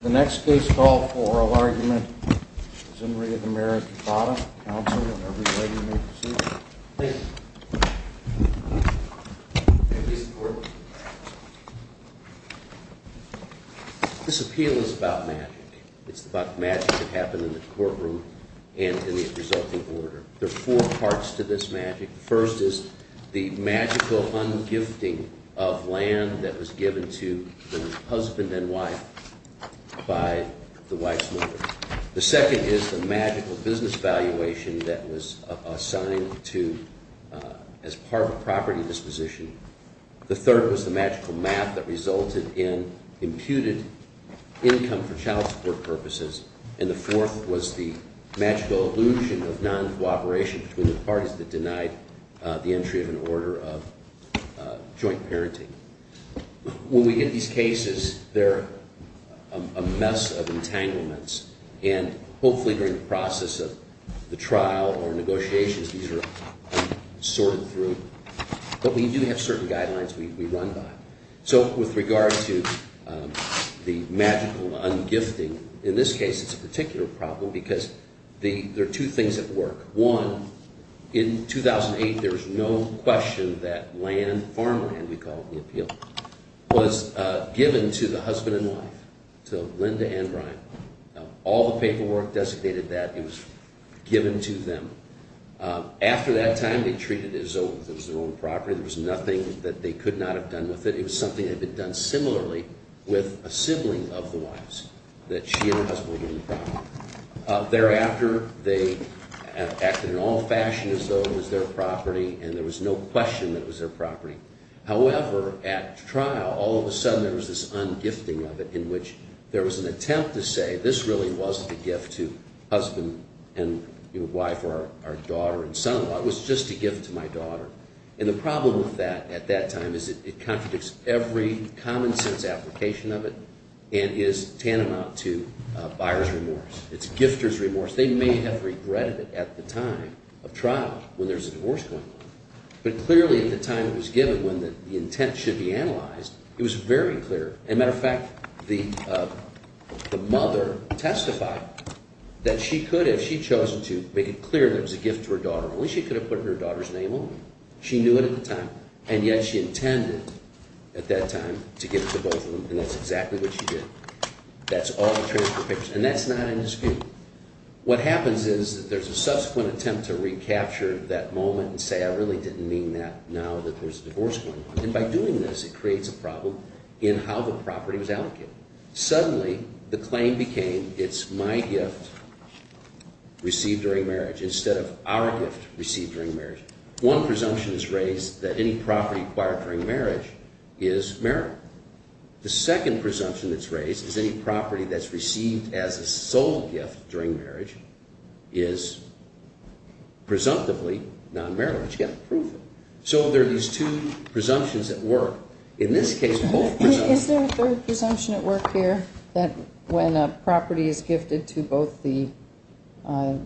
The next case called for oral argument is in re of the Marriage of Bottom. Counsel, if every lady may proceed. Please. This appeal is about magic. It's about magic that happened in the courtroom and in the resulting order. There are four parts to this magic. First is the magical ungifting of land that was given to the husband and wife by the wife's mother. The second is the magical business valuation that was assigned to as part of a property disposition. The third was the magical math that resulted in imputed income for child support purposes. And the fourth was the magical illusion of non-cooperation between the parties that denied the entry of an order of joint parenting. When we get these cases, they're a mess of entanglements. And hopefully during the process of the trial or negotiations, these are sorted through. But we do have certain guidelines we run by. So with regard to the magical ungifting, in this case it's a particular problem because there are two things at work. One, in 2008 there was no question that land, farmland we call it in the appeal, was given to the husband and wife, to Linda and Brian. All the paperwork designated that. It was given to them. After that time, they treated it as though it was their own property. There was nothing that they could not have done with it. It was something that had been done similarly with a sibling of the wife's, that she and her husband were doing the property. Thereafter, they acted in all fashion as though it was their property. And there was no question that it was their property. However, at trial, all of a sudden there was this ungifting of it in which there was an attempt to say this really wasn't a gift to husband and wife or our daughter and son-in-law. It was just a gift to my daughter. And the problem with that at that time is it contradicts every common sense application of it and is tantamount to buyer's remorse. It's gifter's remorse. They may have regretted it at the time of trial when there's a divorce going on. But clearly at the time it was given, when the intent should be analyzed, it was very clear. As a matter of fact, the mother testified that she could, if she'd chosen to, make it clear that it was a gift to her daughter. Only she could have put her daughter's name on it. She knew it at the time. And yet she intended at that time to give it to both of them. And that's exactly what she did. That's all the transfer papers. And that's not indisputable. What happens is that there's a subsequent attempt to recapture that moment and say I really didn't mean that now that there's a divorce going on. And by doing this it creates a problem in how the property was allocated. Suddenly the claim became it's my gift received during marriage instead of our gift received during marriage. One presumption is raised that any property acquired during marriage is marital. The second presumption that's raised is any property that's received as a sole gift during marriage is presumptively non-marital. You've got to prove it. So there are these two presumptions at work. In this case both presumptions. Is there a third presumption at work here that when a property is gifted to both the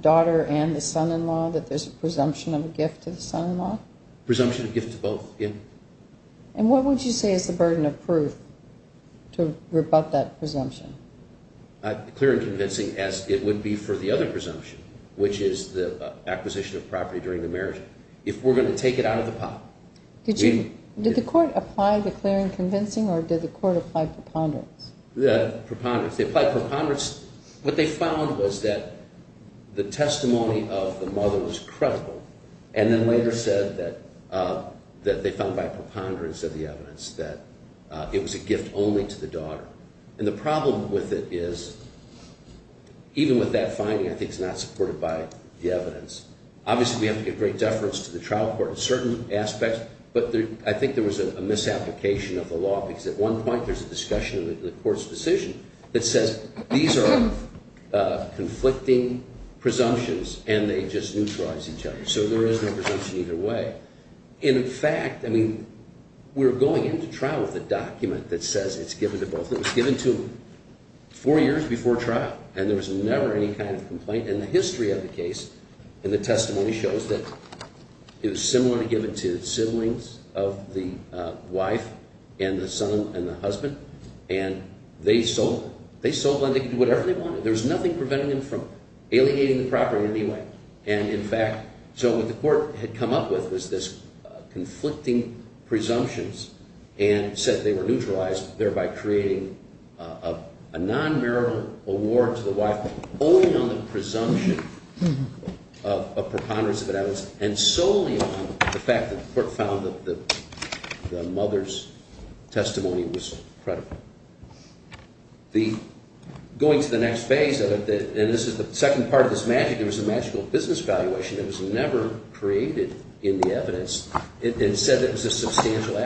daughter and the son-in-law that there's a presumption of a gift to the son-in-law? Presumption of a gift to both, yeah. And what would you say is the burden of proof to rebut that presumption? Clear and convincing as it would be for the other presumption which is the acquisition of property during the marriage. If we're going to take it out of the pot. Did the court apply the clear and convincing or did the court apply preponderance? They applied preponderance. What they found was that the testimony of the mother was credible. And then later said that they found by preponderance of the evidence that it was a gift only to the daughter. And the problem with it is even with that finding I think it's not supported by the evidence. Obviously we have to give great deference to the trial court in certain aspects. But I think there was a misapplication of the law because at one point there's a discussion in the court's decision that says these are conflicting presumptions and they just neutralize each other. So there is no presumption either way. In fact, I mean, we're going into trial with a document that says it's given to both. It was given to four years before trial and there was never any kind of complaint. And the history of the case in the testimony shows that it was similarly given to siblings of the wife and the son and the husband. And they sold them. They sold them and they could do whatever they wanted. There was nothing preventing them from aliegating the property in any way. And in fact, so what the court had come up with was this conflicting presumptions and said they were neutralized, thereby creating a non-marital award to the wife only on the presumption of preponderance of evidence and solely on the fact that the court found that the mother's testimony was credible. Going to the next phase of it, and this is the second part of this magic, there was a magical business valuation that was never created in the evidence. It said it was a substantial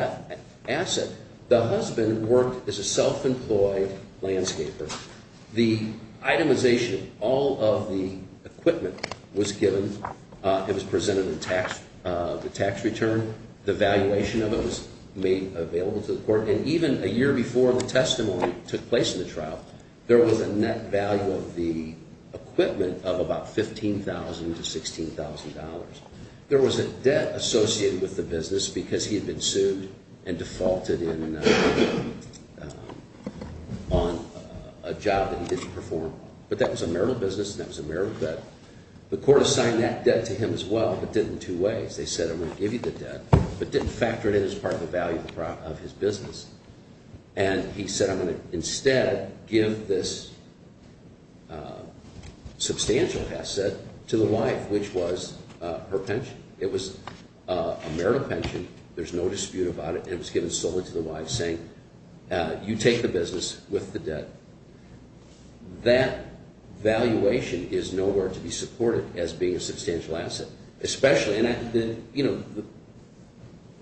asset. The husband worked as a self-employed landscaper. The itemization of all of the equipment was given. It was presented in the tax return. The valuation of it was made available to the court. And even a year before the testimony took place in the trial, there was a net value of the equipment of about $15,000 to $16,000. There was a debt associated with the business because he had been sued and defaulted on a job that he didn't perform. But that was a marital business and that was a marital debt. The court assigned that debt to him as well, but did it in two ways. They said, I'm going to give you the debt, but didn't factor it in as part of the value of his business. And he said, I'm going to instead give this substantial asset to the wife, which was her pension. It was a marital pension. There's no dispute about it, and it was given solely to the wife, saying, you take the business with the debt. That valuation is nowhere to be supported as being a substantial asset.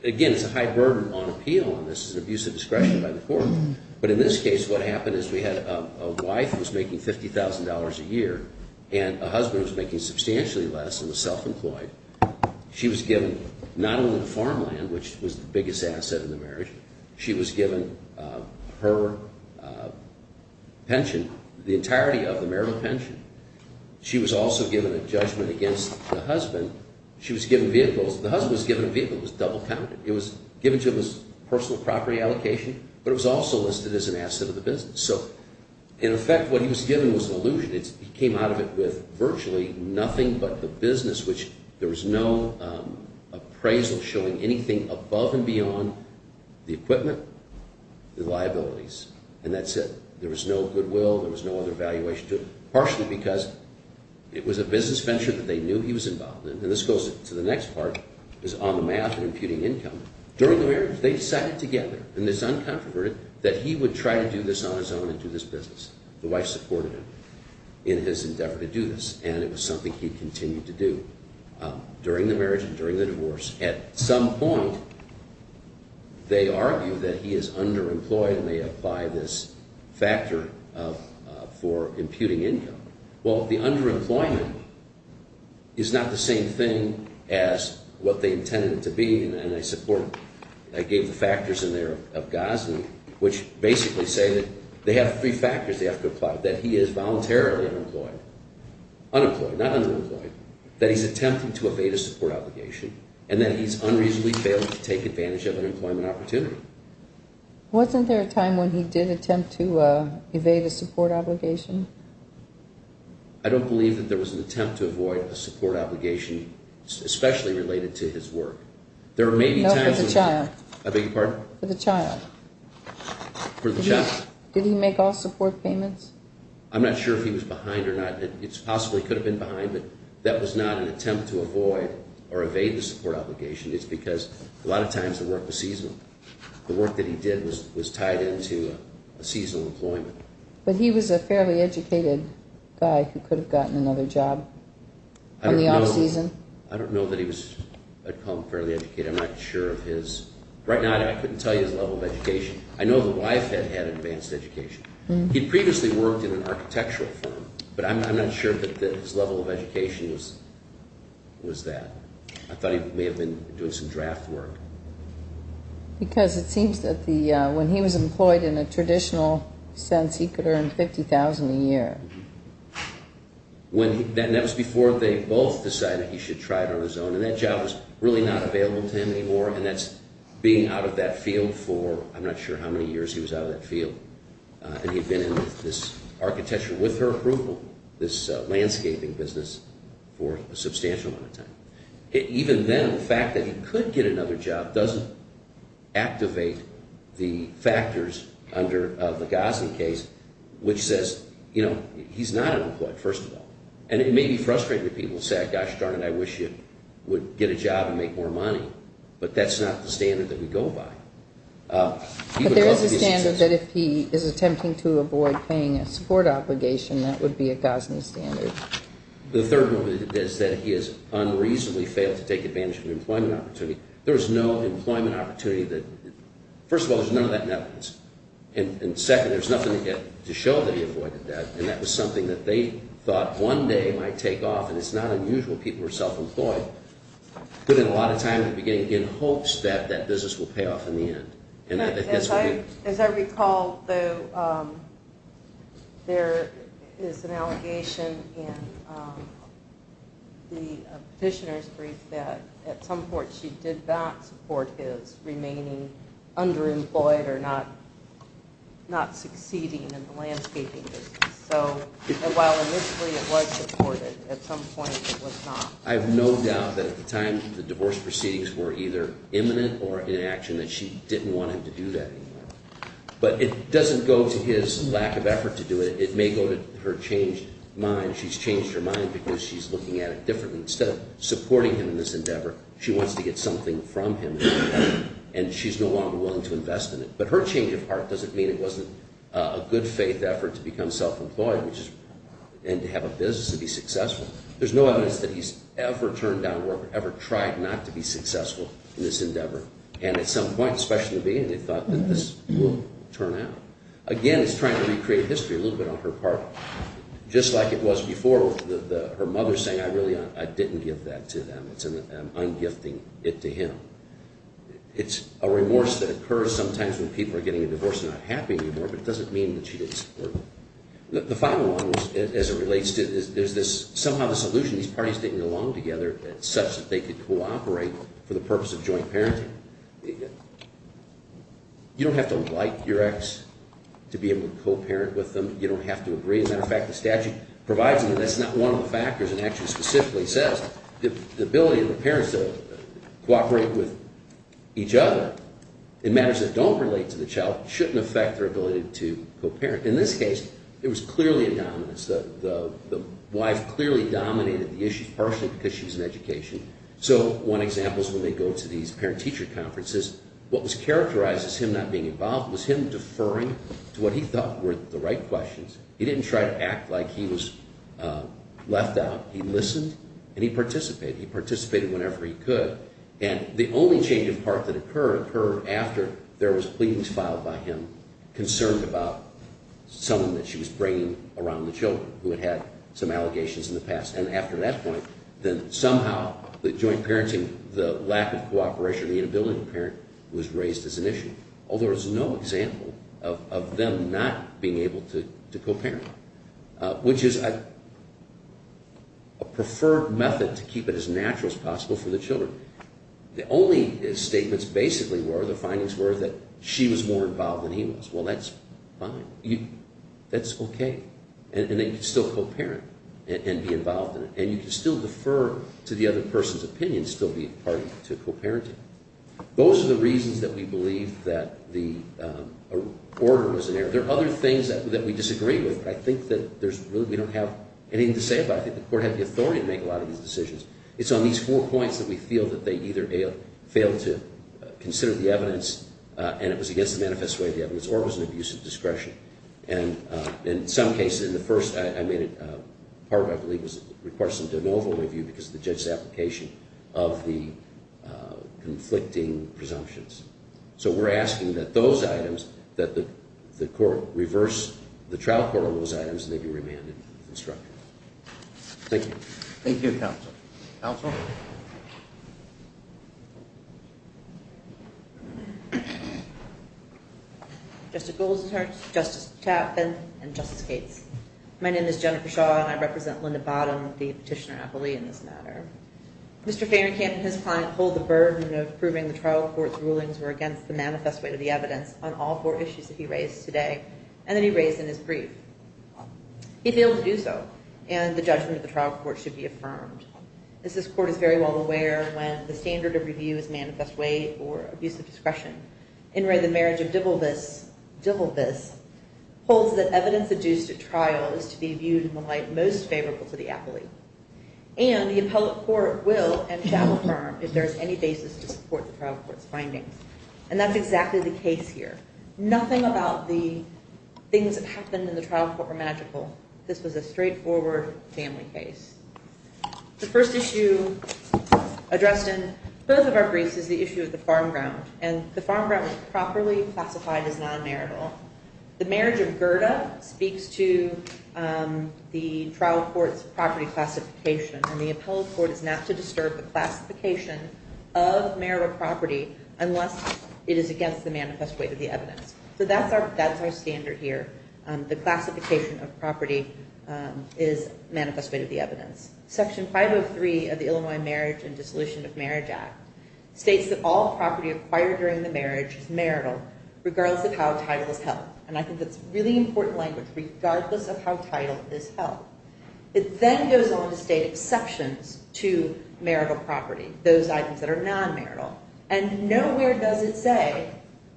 Again, it's a high burden on appeal, and this is an abuse of discretion by the court. But in this case, what happened is we had a wife who was making $50,000 a year and a husband who was making substantially less and was self-employed. She was given not only the farmland, which was the biggest asset in the marriage. She was given her pension, the entirety of the marital pension. She was also given a judgment against the husband. She was given vehicles. The husband was given a vehicle. It was double-counted. It was given to him as personal property allocation, but it was also listed as an asset of the business. So, in effect, what he was given was an illusion. He came out of it with virtually nothing but the business, which there was no appraisal showing anything above and beyond the equipment, the liabilities, and that's it. There was no goodwill. There was no other valuation to it, partially because it was a business venture that they knew he was involved in. And this goes to the next part, is on the math and imputing income. During the marriage, they decided together in this uncontroverted that he would try to do this on his own and do this business. The wife supported him in his endeavor to do this, and it was something he continued to do during the marriage and during the divorce. At some point, they argue that he is underemployed, and they apply this factor for imputing income. Well, the underemployment is not the same thing as what they intended it to be, and they support it. I gave the factors in there of Gosling, which basically say that they have three factors they have to apply, that he is voluntarily unemployed. Unemployed, not underemployed, that he's attempting to evade a support obligation, and that he's unreasonably failing to take advantage of an employment opportunity. Wasn't there a time when he did attempt to evade a support obligation? I don't believe that there was an attempt to avoid a support obligation, especially related to his work. No, for the child. I beg your pardon? For the child. For the child. Did he make all support payments? I'm not sure if he was behind or not. It's possible he could have been behind, but that was not an attempt to avoid or evade the support obligation. It's because a lot of times the work was seasonal. The work that he did was tied into a seasonal employment. But he was a fairly educated guy who could have gotten another job on the off-season. I don't know that he had become fairly educated. I'm not sure of his – right now, I couldn't tell you his level of education. I know the wife had had an advanced education. He'd previously worked in an architectural firm, but I'm not sure that his level of education was that. I thought he may have been doing some draft work. Because it seems that when he was employed in a traditional sense, he could earn $50,000 a year. And that was before they both decided he should try it on his own. And that job was really not available to him anymore, and that's being out of that field for – And he'd been in this architecture with her approval, this landscaping business, for a substantial amount of time. Even then, the fact that he could get another job doesn't activate the factors under the Gosling case, which says, you know, he's not unemployed, first of all. And it may be frustrating to people who say, gosh darn it, I wish you would get a job and make more money. But that's not the standard that we go by. But there is a standard that if he is attempting to avoid paying a support obligation, that would be a Gosling standard. The third one is that he has unreasonably failed to take advantage of the employment opportunity. There is no employment opportunity that – first of all, there's none of that in evidence. And second, there's nothing to show that he avoided that. And that was something that they thought one day might take off, and it's not unusual people are self-employed. But in a lot of times, we begin to get hopes that that business will pay off in the end. And I think that's what we – As I recall, though, there is an allegation in the petitioner's brief that at some point she did back support his remaining underemployed or not succeeding in the landscaping business. So while initially it was supported, at some point it was not. I have no doubt that at the time the divorce proceedings were either imminent or in action that she didn't want him to do that anymore. But it doesn't go to his lack of effort to do it. It may go to her changed mind. She's changed her mind because she's looking at it differently. Instead of supporting him in this endeavor, she wants to get something from him, and she's no longer willing to invest in it. But her change of heart doesn't mean it wasn't a good faith effort to become self-employed and to have a business and be successful. There's no evidence that he's ever turned down work or ever tried not to be successful in this endeavor. And at some point, especially in the beginning, he thought that this would turn out. Again, he's trying to recreate history a little bit on her part, just like it was before her mother saying, I really – I didn't give that to them. I'm ungifting it to him. It's a remorse that occurs sometimes when people are getting a divorce and not happy anymore, but it doesn't mean that she didn't support it. The final one, as it relates to – there's this – somehow this illusion these parties didn't belong together such that they could cooperate for the purpose of joint parenting. You don't have to like your ex to be able to co-parent with them. You don't have to agree. As a matter of fact, the statute provides that that's not one of the factors and actually specifically says the ability of the parents to cooperate with each other in matters that don't relate to the child shouldn't affect their ability to co-parent. In this case, it was clearly a dominance. The wife clearly dominated the issue partially because she was in education. So one example is when they go to these parent-teacher conferences, what was characterized as him not being involved was him deferring to what he thought were the right questions. He didn't try to act like he was left out. He listened and he participated. He participated whenever he could. And the only change of heart that occurred occurred after there was pleadings filed by him concerned about someone that she was bringing around the children who had had some allegations in the past. And after that point, then somehow the joint parenting, the lack of cooperation, the inability to parent was raised as an issue. Although there's no example of them not being able to co-parent, which is a preferred method to keep it as natural as possible for the children. The only statements basically were, the findings were, that she was more involved than he was. Well, that's fine. That's okay. And then you can still co-parent and be involved in it. And you can still defer to the other person's opinion, still be a party to co-parenting. Those are the reasons that we believe that the order was in error. There are other things that we disagree with. I think that there's really, we don't have anything to say about it. I think the court had the authority to make a lot of these decisions. It's on these four points that we feel that they either failed to consider the evidence and it was against the manifest way of the evidence, or it was an abuse of discretion. And in some cases, in the first, I made it, part of it I believe was a request of de novo review because of the judge's application of the conflicting presumptions. So we're asking that those items, that the court reverse the trial court on those items and they be remanded with instruction. Thank you. Thank you, counsel. Counsel? Justice Gould's attorney, Justice Chaffin, and Justice Cates. My name is Jennifer Shaw and I represent Linda Bottom, the petitioner appellee in this matter. Mr. Fahrenkamp and his client hold the burden of proving the trial court's rulings were against the manifest way of the evidence on all four issues that he raised today and that he raised in his brief. He failed to do so and the judgment of the trial court should be affirmed. As this court is very well aware, when the standard of review is manifest way or abuse of discretion, in where the marriage of divilbis holds that evidence adduced at trial is to be viewed in the light most favorable to the appellee. And the appellate court will and shall affirm if there is any basis to support the trial court's findings. And that's exactly the case here. Nothing about the things that happened in the trial court were magical. This was a straightforward family case. The first issue addressed in both of our briefs is the issue of the farm ground. And the farm ground was properly classified as non-marital. The marriage of Gerda speaks to the trial court's property classification and the appellate court is not to disturb the classification of marital property unless it is against the manifest way of the evidence. So that's our standard here. The classification of property is manifest way of the evidence. Section 503 of the Illinois Marriage and Dissolution of Marriage Act states that all property acquired during the marriage is marital, regardless of how title is held. And I think that's really important language, regardless of how title is held. It then goes on to state exceptions to marital property, those items that are non-marital. And nowhere does it say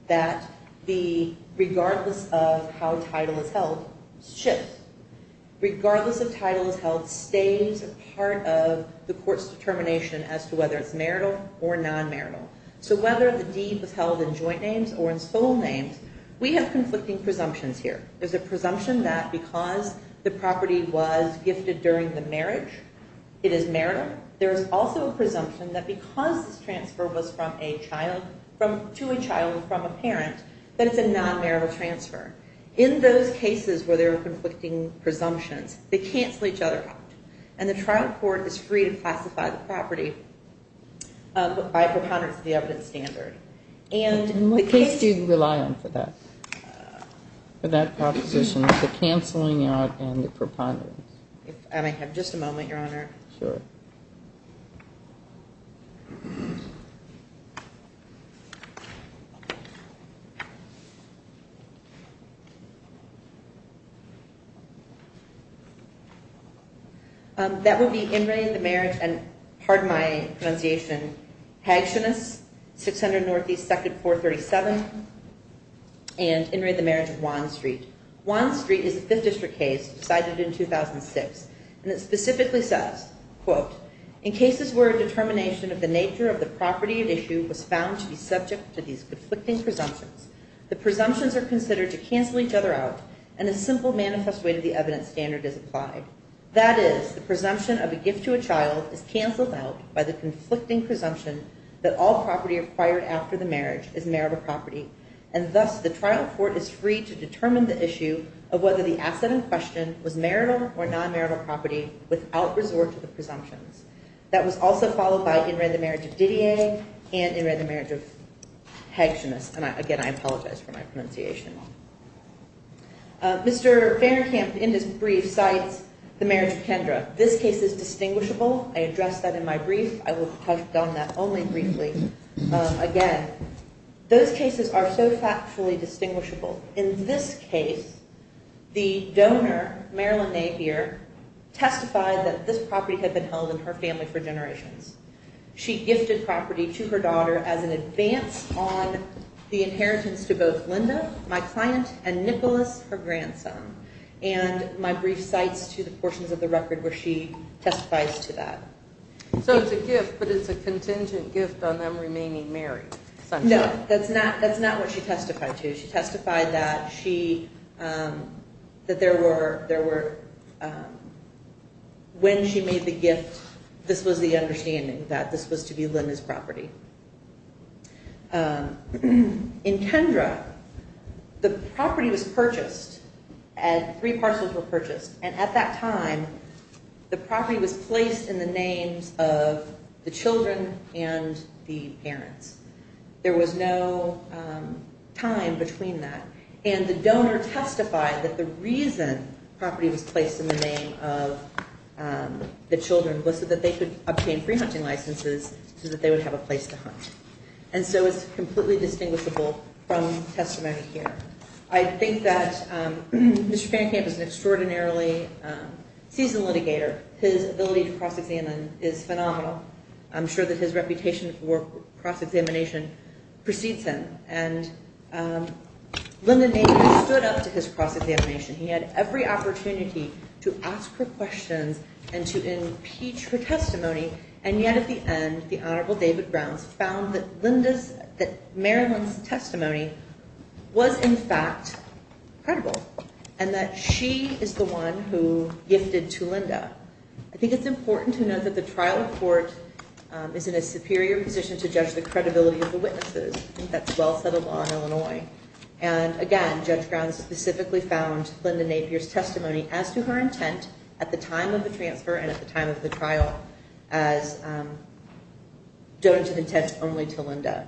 that the, regardless of how title is held, shifts. Regardless of title is held, stays a part of the court's determination as to whether it's marital or non-marital. So whether the deed was held in joint names or in sole names, we have conflicting presumptions here. There's a presumption that because the property was gifted during the marriage, it is marital. There is also a presumption that because this transfer was to a child from a parent, that it's a non-marital transfer. In those cases where there are conflicting presumptions, they cancel each other out. And the trial court is free to classify the property by preponderance of the evidence standard. And what case do you rely on for that? For that proposition, the canceling out and the preponderance. And I have just a moment, Your Honor. Sure. Thank you. That would be In re, the marriage, and pardon my pronunciation, Hagenus, 600 Northeast, 2nd, 437, and In re, the marriage, 1st Street. 1st Street is a 5th District case decided in 2006. And it specifically says, quote, In cases where a determination of the nature of the property at issue was found to be subject to these conflicting presumptions, the presumptions are considered to cancel each other out, and a simple manifest way to the evidence standard is applied. That is, the presumption of a gift to a child is canceled out by the conflicting presumption that all property acquired after the marriage is marital property. And thus, the trial court is free to determine the issue of whether the asset in question was marital or non-marital property without resort to the presumptions. That was also followed by In re, the marriage of Didier and In re, the marriage of Hagenus. And again, I apologize for my pronunciation. Mr. Fahrenkamp, in his brief, cites the marriage of Kendra. This case is distinguishable. I addressed that in my brief. I will have done that only briefly. Again, those cases are so factually distinguishable. In this case, the donor, Marilyn Napier, testified that this property had been held in her family for generations. She gifted property to her daughter as an advance on the inheritance to both Linda, my client, and Nicholas, her grandson. And my brief cites to the portions of the record where she testifies to that. So it's a gift, but it's a contingent gift on them remaining married. No, that's not what she testified to. She testified that when she made the gift, this was the understanding, that this was to be Linda's property. In Kendra, the property was purchased. Three parcels were purchased. And at that time, the property was placed in the names of the children and the parents. There was no time between that. And the donor testified that the reason the property was placed in the name of the children was so that they could obtain free hunting licenses so that they would have a place to hunt. And so it's completely distinguishable from testimony here. I think that Mr. Fancamp is an extraordinarily seasoned litigator. His ability to cross-examine is phenomenal. I'm sure that his reputation for cross-examination precedes him. And Linda Nagle stood up to his cross-examination. He had every opportunity to ask her questions and to impeach her testimony. And yet at the end, the Honorable David Grounds found that Marilyn's testimony was in fact credible and that she is the one who gifted to Linda. I think it's important to note that the trial court is in a superior position to judge the credibility of the witnesses. I think that's well said of law in Illinois. And again, Judge Grounds specifically found Linda Napier's testimony as to her intent at the time of the transfer and at the time of the trial as donative intent only to Linda.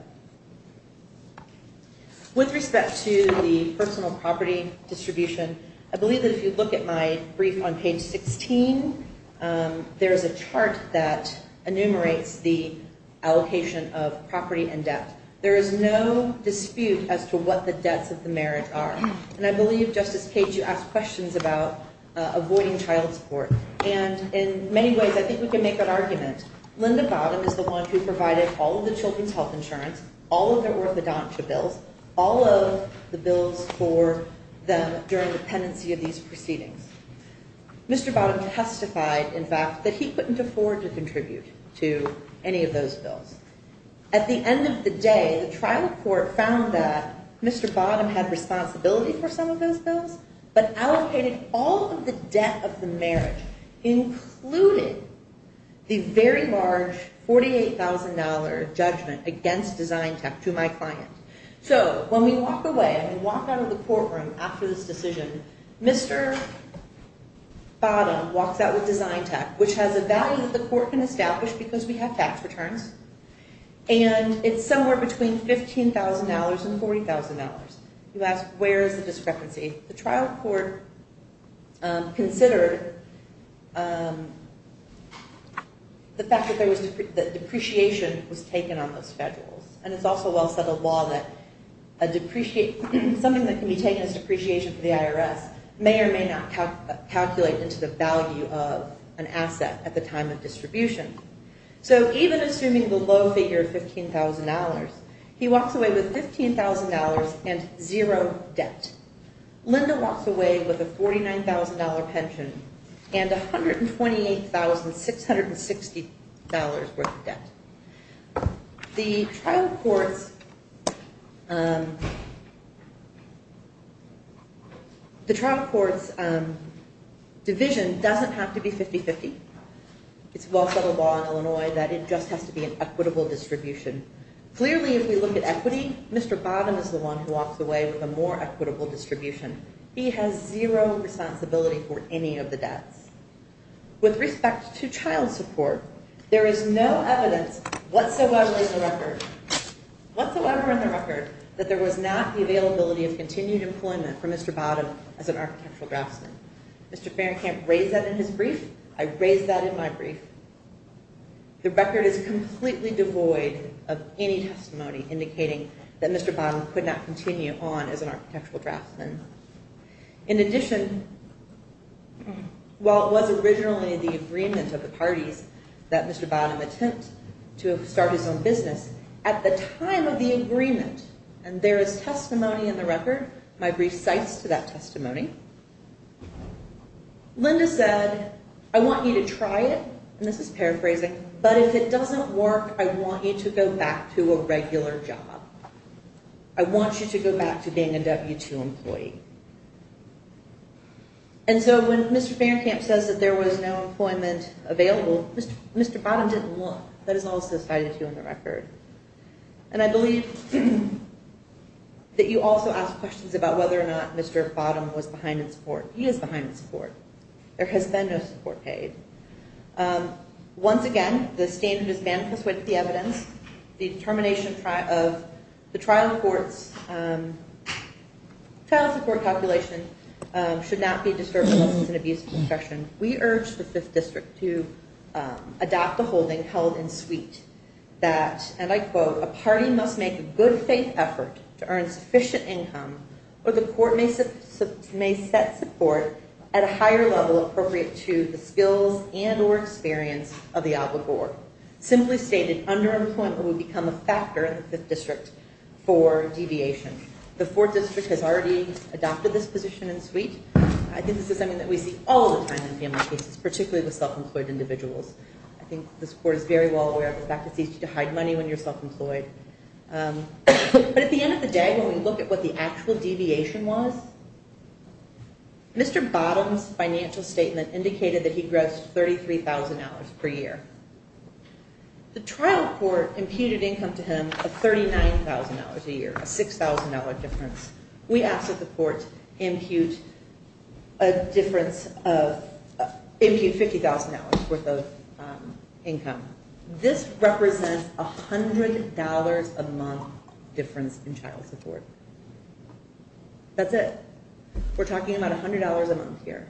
With respect to the personal property distribution, I believe that if you look at my brief on page 16, there is a chart that enumerates the allocation of property and debt. There is no dispute as to what the debts of the marriage are. And I believe, Justice Page, you asked questions about avoiding child support. And in many ways, I think we can make that argument. Linda Bottom is the one who provided all of the children's health insurance, all of their orthodontic bills, all of the bills for them during the pendency of these proceedings. Mr. Bottom testified, in fact, that he couldn't afford to contribute to any of those bills. At the end of the day, the trial court found that Mr. Bottom had responsibility for some of those bills, but allocated all of the debt of the marriage, including the very large $48,000 judgment against Design Tech to my client. So when we walk away and walk out of the courtroom after this decision, Mr. Bottom walks out with Design Tech, which has a value that the court can establish because we have tax returns. And it's somewhere between $15,000 and $40,000. You ask, where is the discrepancy? The trial court considered the fact that depreciation was taken on those schedules. And it's also well set a law that something that can be taken as depreciation for the IRS may or may not calculate into the value of an asset at the time of distribution. So even assuming the low figure of $15,000, he walks away with $15,000 and zero debt. Linda walks away with a $49,000 pension and $128,660 worth of debt. The trial court's division doesn't have to be 50-50. It's well set a law in Illinois that it just has to be an equitable distribution. Clearly, if we look at equity, Mr. Bottom is the one who walks away with a more equitable distribution. He has zero responsibility for any of the debts. With respect to child support, there is no evidence whatsoever in the record that there was not the availability of continued employment for Mr. Bottom as an architectural draftsman. Mr. Fahrenkamp raised that in his brief. I raised that in my brief. The record is completely devoid of any testimony indicating that Mr. Bottom could not continue on as an architectural draftsman. In addition, while it was originally the agreement of the parties that Mr. Bottom attempt to start his own business, at the time of the agreement, and there is testimony in the record, my brief cites to that testimony, Linda said, I want you to try it, and this is paraphrasing, but if it doesn't work, I want you to go back to a regular job. I want you to go back to being a W-2 employee. And so when Mr. Fahrenkamp says that there was no employment available, Mr. Bottom didn't look. That is also cited here in the record. And I believe that you also asked questions about whether or not Mr. Bottom was behind in support. He is behind in support. There has been no support paid. Once again, the standard is banned because of the evidence. The determination of the trial court's trial support calculation should not be disturbed unless it's an abuse of discretion. We urge the Fifth District to adopt the holding held in suite that, and I quote, a party must make a good faith effort to earn sufficient income or the court may set support at a higher level appropriate to the skills and or experience of the obligor. Simply stated, underemployment would become a factor in the Fifth District for deviation. The Fourth District has already adopted this position in suite. I think this is something that we see all the time in family cases, particularly with self-employed individuals. I think this court is very well aware of the fact that it's easy to hide money when you're self-employed. But at the end of the day, when we look at what the actual deviation was, Mr. Bottom's financial statement indicated that he grossed $33,000 per year. The trial court imputed income to him of $39,000 a year, a $6,000 difference. We ask that the court impute a difference of, impute $50,000 worth of income. This represents $100 a month difference in child support. That's it. We're talking about $100 a month here.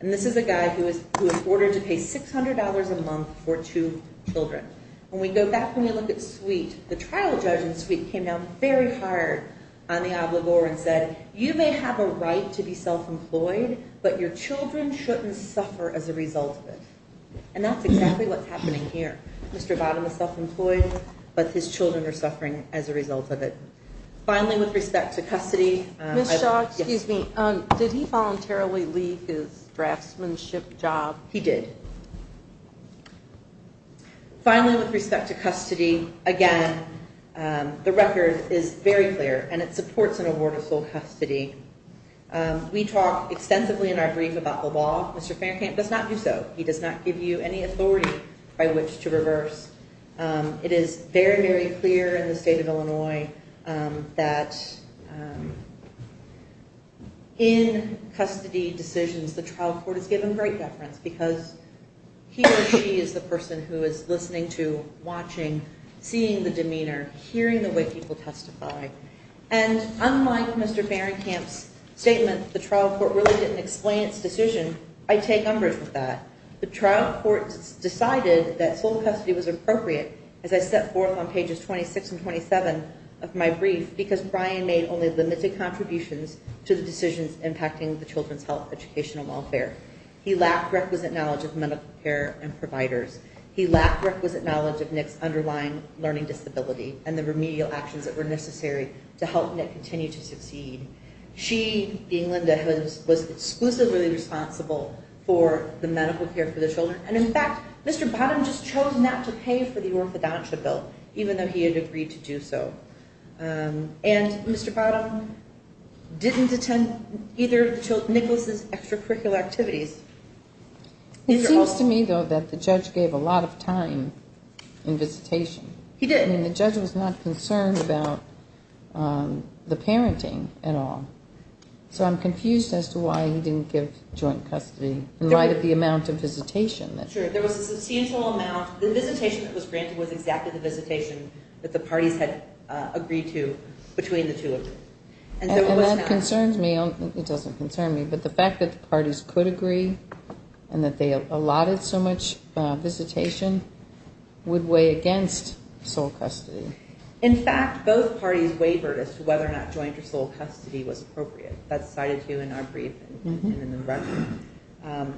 And this is a guy who was ordered to pay $600 a month for two children. When we go back and we look at suite, the trial judge in suite came down very hard on the obligor and said, you may have a right to be self-employed, but your children shouldn't suffer as a result of it. And that's exactly what's happening here. Mr. Bottom is self-employed, but his children are suffering as a result of it. Finally, with respect to custody. Ms. Shaw, did he voluntarily leave his draftsmanship job? He did. He did. Finally, with respect to custody, again, the record is very clear, and it supports an award of full custody. We talk extensively in our brief about the law. Mr. Faircamp does not do so. He does not give you any authority by which to reverse. It is very, very clear in the state of Illinois that in custody decisions, the trial court is given great deference because he or she is the person who is listening to, watching, seeing the demeanor, hearing the way people testify. And unlike Mr. Faircamp's statement, the trial court really didn't explain its decision. I take umbrage with that. The trial court decided that full custody was appropriate, as I set forth on pages 26 and 27 of my brief, because Brian made only limited contributions to the decisions impacting the children's health, educational welfare. He lacked requisite knowledge of medical care and providers. He lacked requisite knowledge of Nick's underlying learning disability and the remedial actions that were necessary to help Nick continue to succeed. She, being Linda, was exclusively responsible for the medical care for the children. And, in fact, Mr. Bottom just chose not to pay for the orthodontia bill, even though he had agreed to do so. And Mr. Bottom didn't attend either of Nicholas's extracurricular activities. It seems to me, though, that the judge gave a lot of time in visitation. He did. And the judge was not concerned about the parenting at all. So I'm confused as to why he didn't give joint custody in light of the amount of visitation. Sure, there was a substantial amount. The visitation that was granted was exactly the visitation that the parties had agreed to between the two of them. And that concerns me. It doesn't concern me. But the fact that the parties could agree and that they allotted so much visitation would weigh against sole custody. In fact, both parties wavered as to whether or not joint or sole custody was appropriate. That's cited here in our brief and in the record.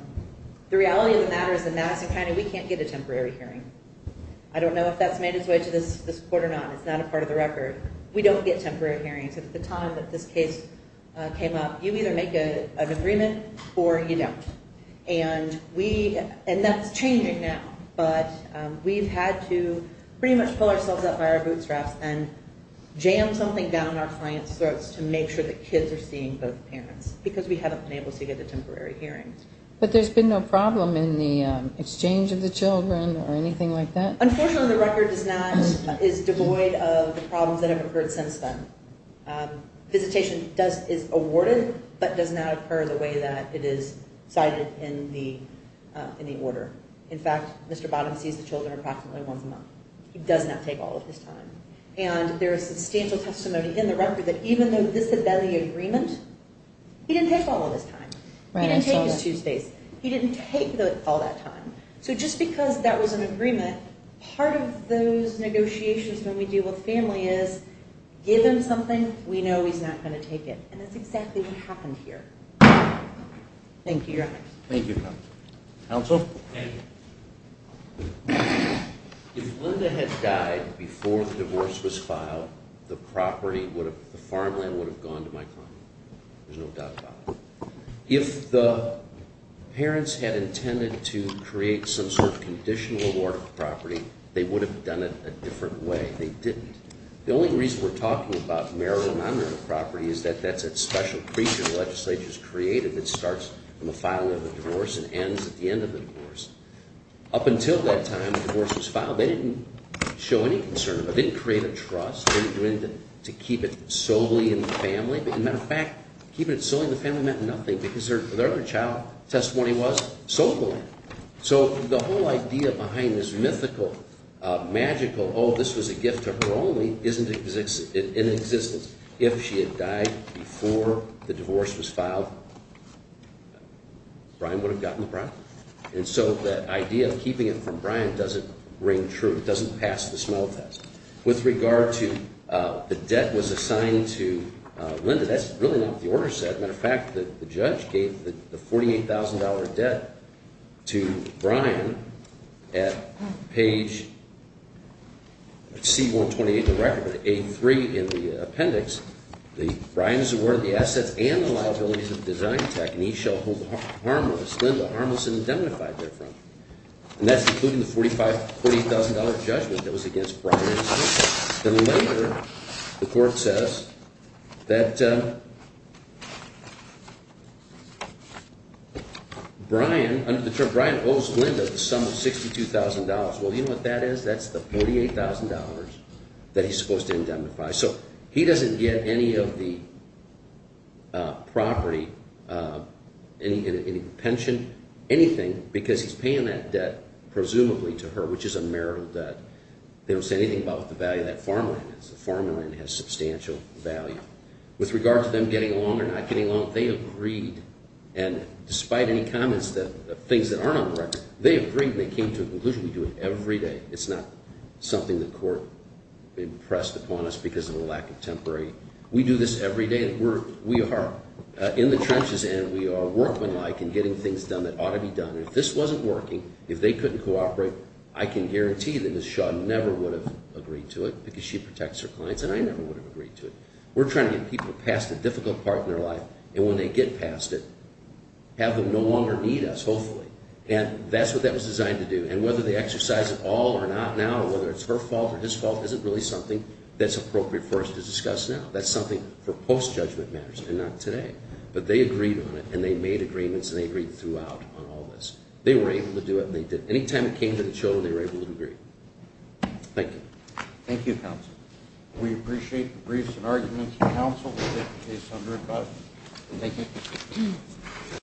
The reality of the matter is that Madison County, we can't get a temporary hearing. I don't know if that's made its way to this court or not. It's not a part of the record. We don't get temporary hearings. At the time that this case came up, you either make an agreement or you don't. And that's changing now. But we've had to pretty much pull ourselves up by our bootstraps and jam something down our clients' throats to make sure that kids are seeing both parents because we haven't been able to get a temporary hearing. But there's been no problem in the exchange of the children or anything like that? Unfortunately, the record is devoid of the problems that have occurred since then. Visitation is awarded but does not occur the way that it is cited in the order. In fact, Mr. Bottom sees the children approximately once a month. He does not take all of his time. And there is substantial testimony in the record that even though this had been the agreement, he didn't take all of his time. He didn't take his Tuesdays. He didn't take all that time. So just because that was an agreement, part of those negotiations when we deal with family is give him something, we know he's not going to take it. And that's exactly what happened here. Thank you, Your Honors. Thank you, Counsel. Counsel? If Linda had died before the divorce was filed, the farmland would have gone to my client. There's no doubt about it. If the parents had intended to create some sort of conditional award of property, they would have done it a different way. They didn't. The only reason we're talking about marital and non-marital property is that that's a special creature the legislature has created that starts from the filing of the divorce and ends at the end of the divorce. Up until that time, the divorce was filed. They didn't show any concern. They didn't create a trust. They didn't do anything to keep it solely in the family. As a matter of fact, keeping it solely in the family meant nothing because their other child's testimony was so cool. So the whole idea behind this mythical, magical, oh, this was a gift to her only, isn't in existence. If she had died before the divorce was filed, Brian would have gotten the property. And so that idea of keeping it from Brian doesn't ring true. It doesn't pass the smell test. With regard to the debt was assigned to Linda, that's really not what the order said. As a matter of fact, the judge gave the $48,000 debt to Brian at page C-128 of the record, but at A-3 in the appendix, Brian is awarded the assets and the liabilities of design tech, and he shall hold Linda harmless and indemnified therefrom. And that's including the $48,000 judgment that was against Brian. Then later, the court says that Brian owes Linda the sum of $62,000. Well, you know what that is? That's the $48,000 that he's supposed to indemnify. So he doesn't get any of the property, any pension, anything, because he's paying that debt presumably to her, which is a marital debt. They don't say anything about what the value of that farmland is. The farmland has substantial value. With regard to them getting along or not getting along, they agreed. And despite any comments that things that aren't on the record, they agreed and they came to a conclusion. We do it every day. It's not something the court impressed upon us because of a lack of temporary. We do this every day. We are in the trenches, and we are working like and getting things done that ought to be done. If this wasn't working, if they couldn't cooperate, I can guarantee that Ms. Shaw never would have agreed to it because she protects her clients, and I never would have agreed to it. We're trying to get people past a difficult part in their life, and when they get past it, have them no longer need us, hopefully. And that's what that was designed to do. And whether they exercise it all or not now, or whether it's her fault or his fault, isn't really something that's appropriate for us to discuss now. That's something for post-judgment matters and not today. But they agreed on it, and they made agreements, and they agreed throughout on all this. They were able to do it, and they did. Any time it came to the children, they were able to agree. Thank you. Thank you, counsel. We appreciate the briefs and arguments. Counsel will take the case under advisory. Thank you.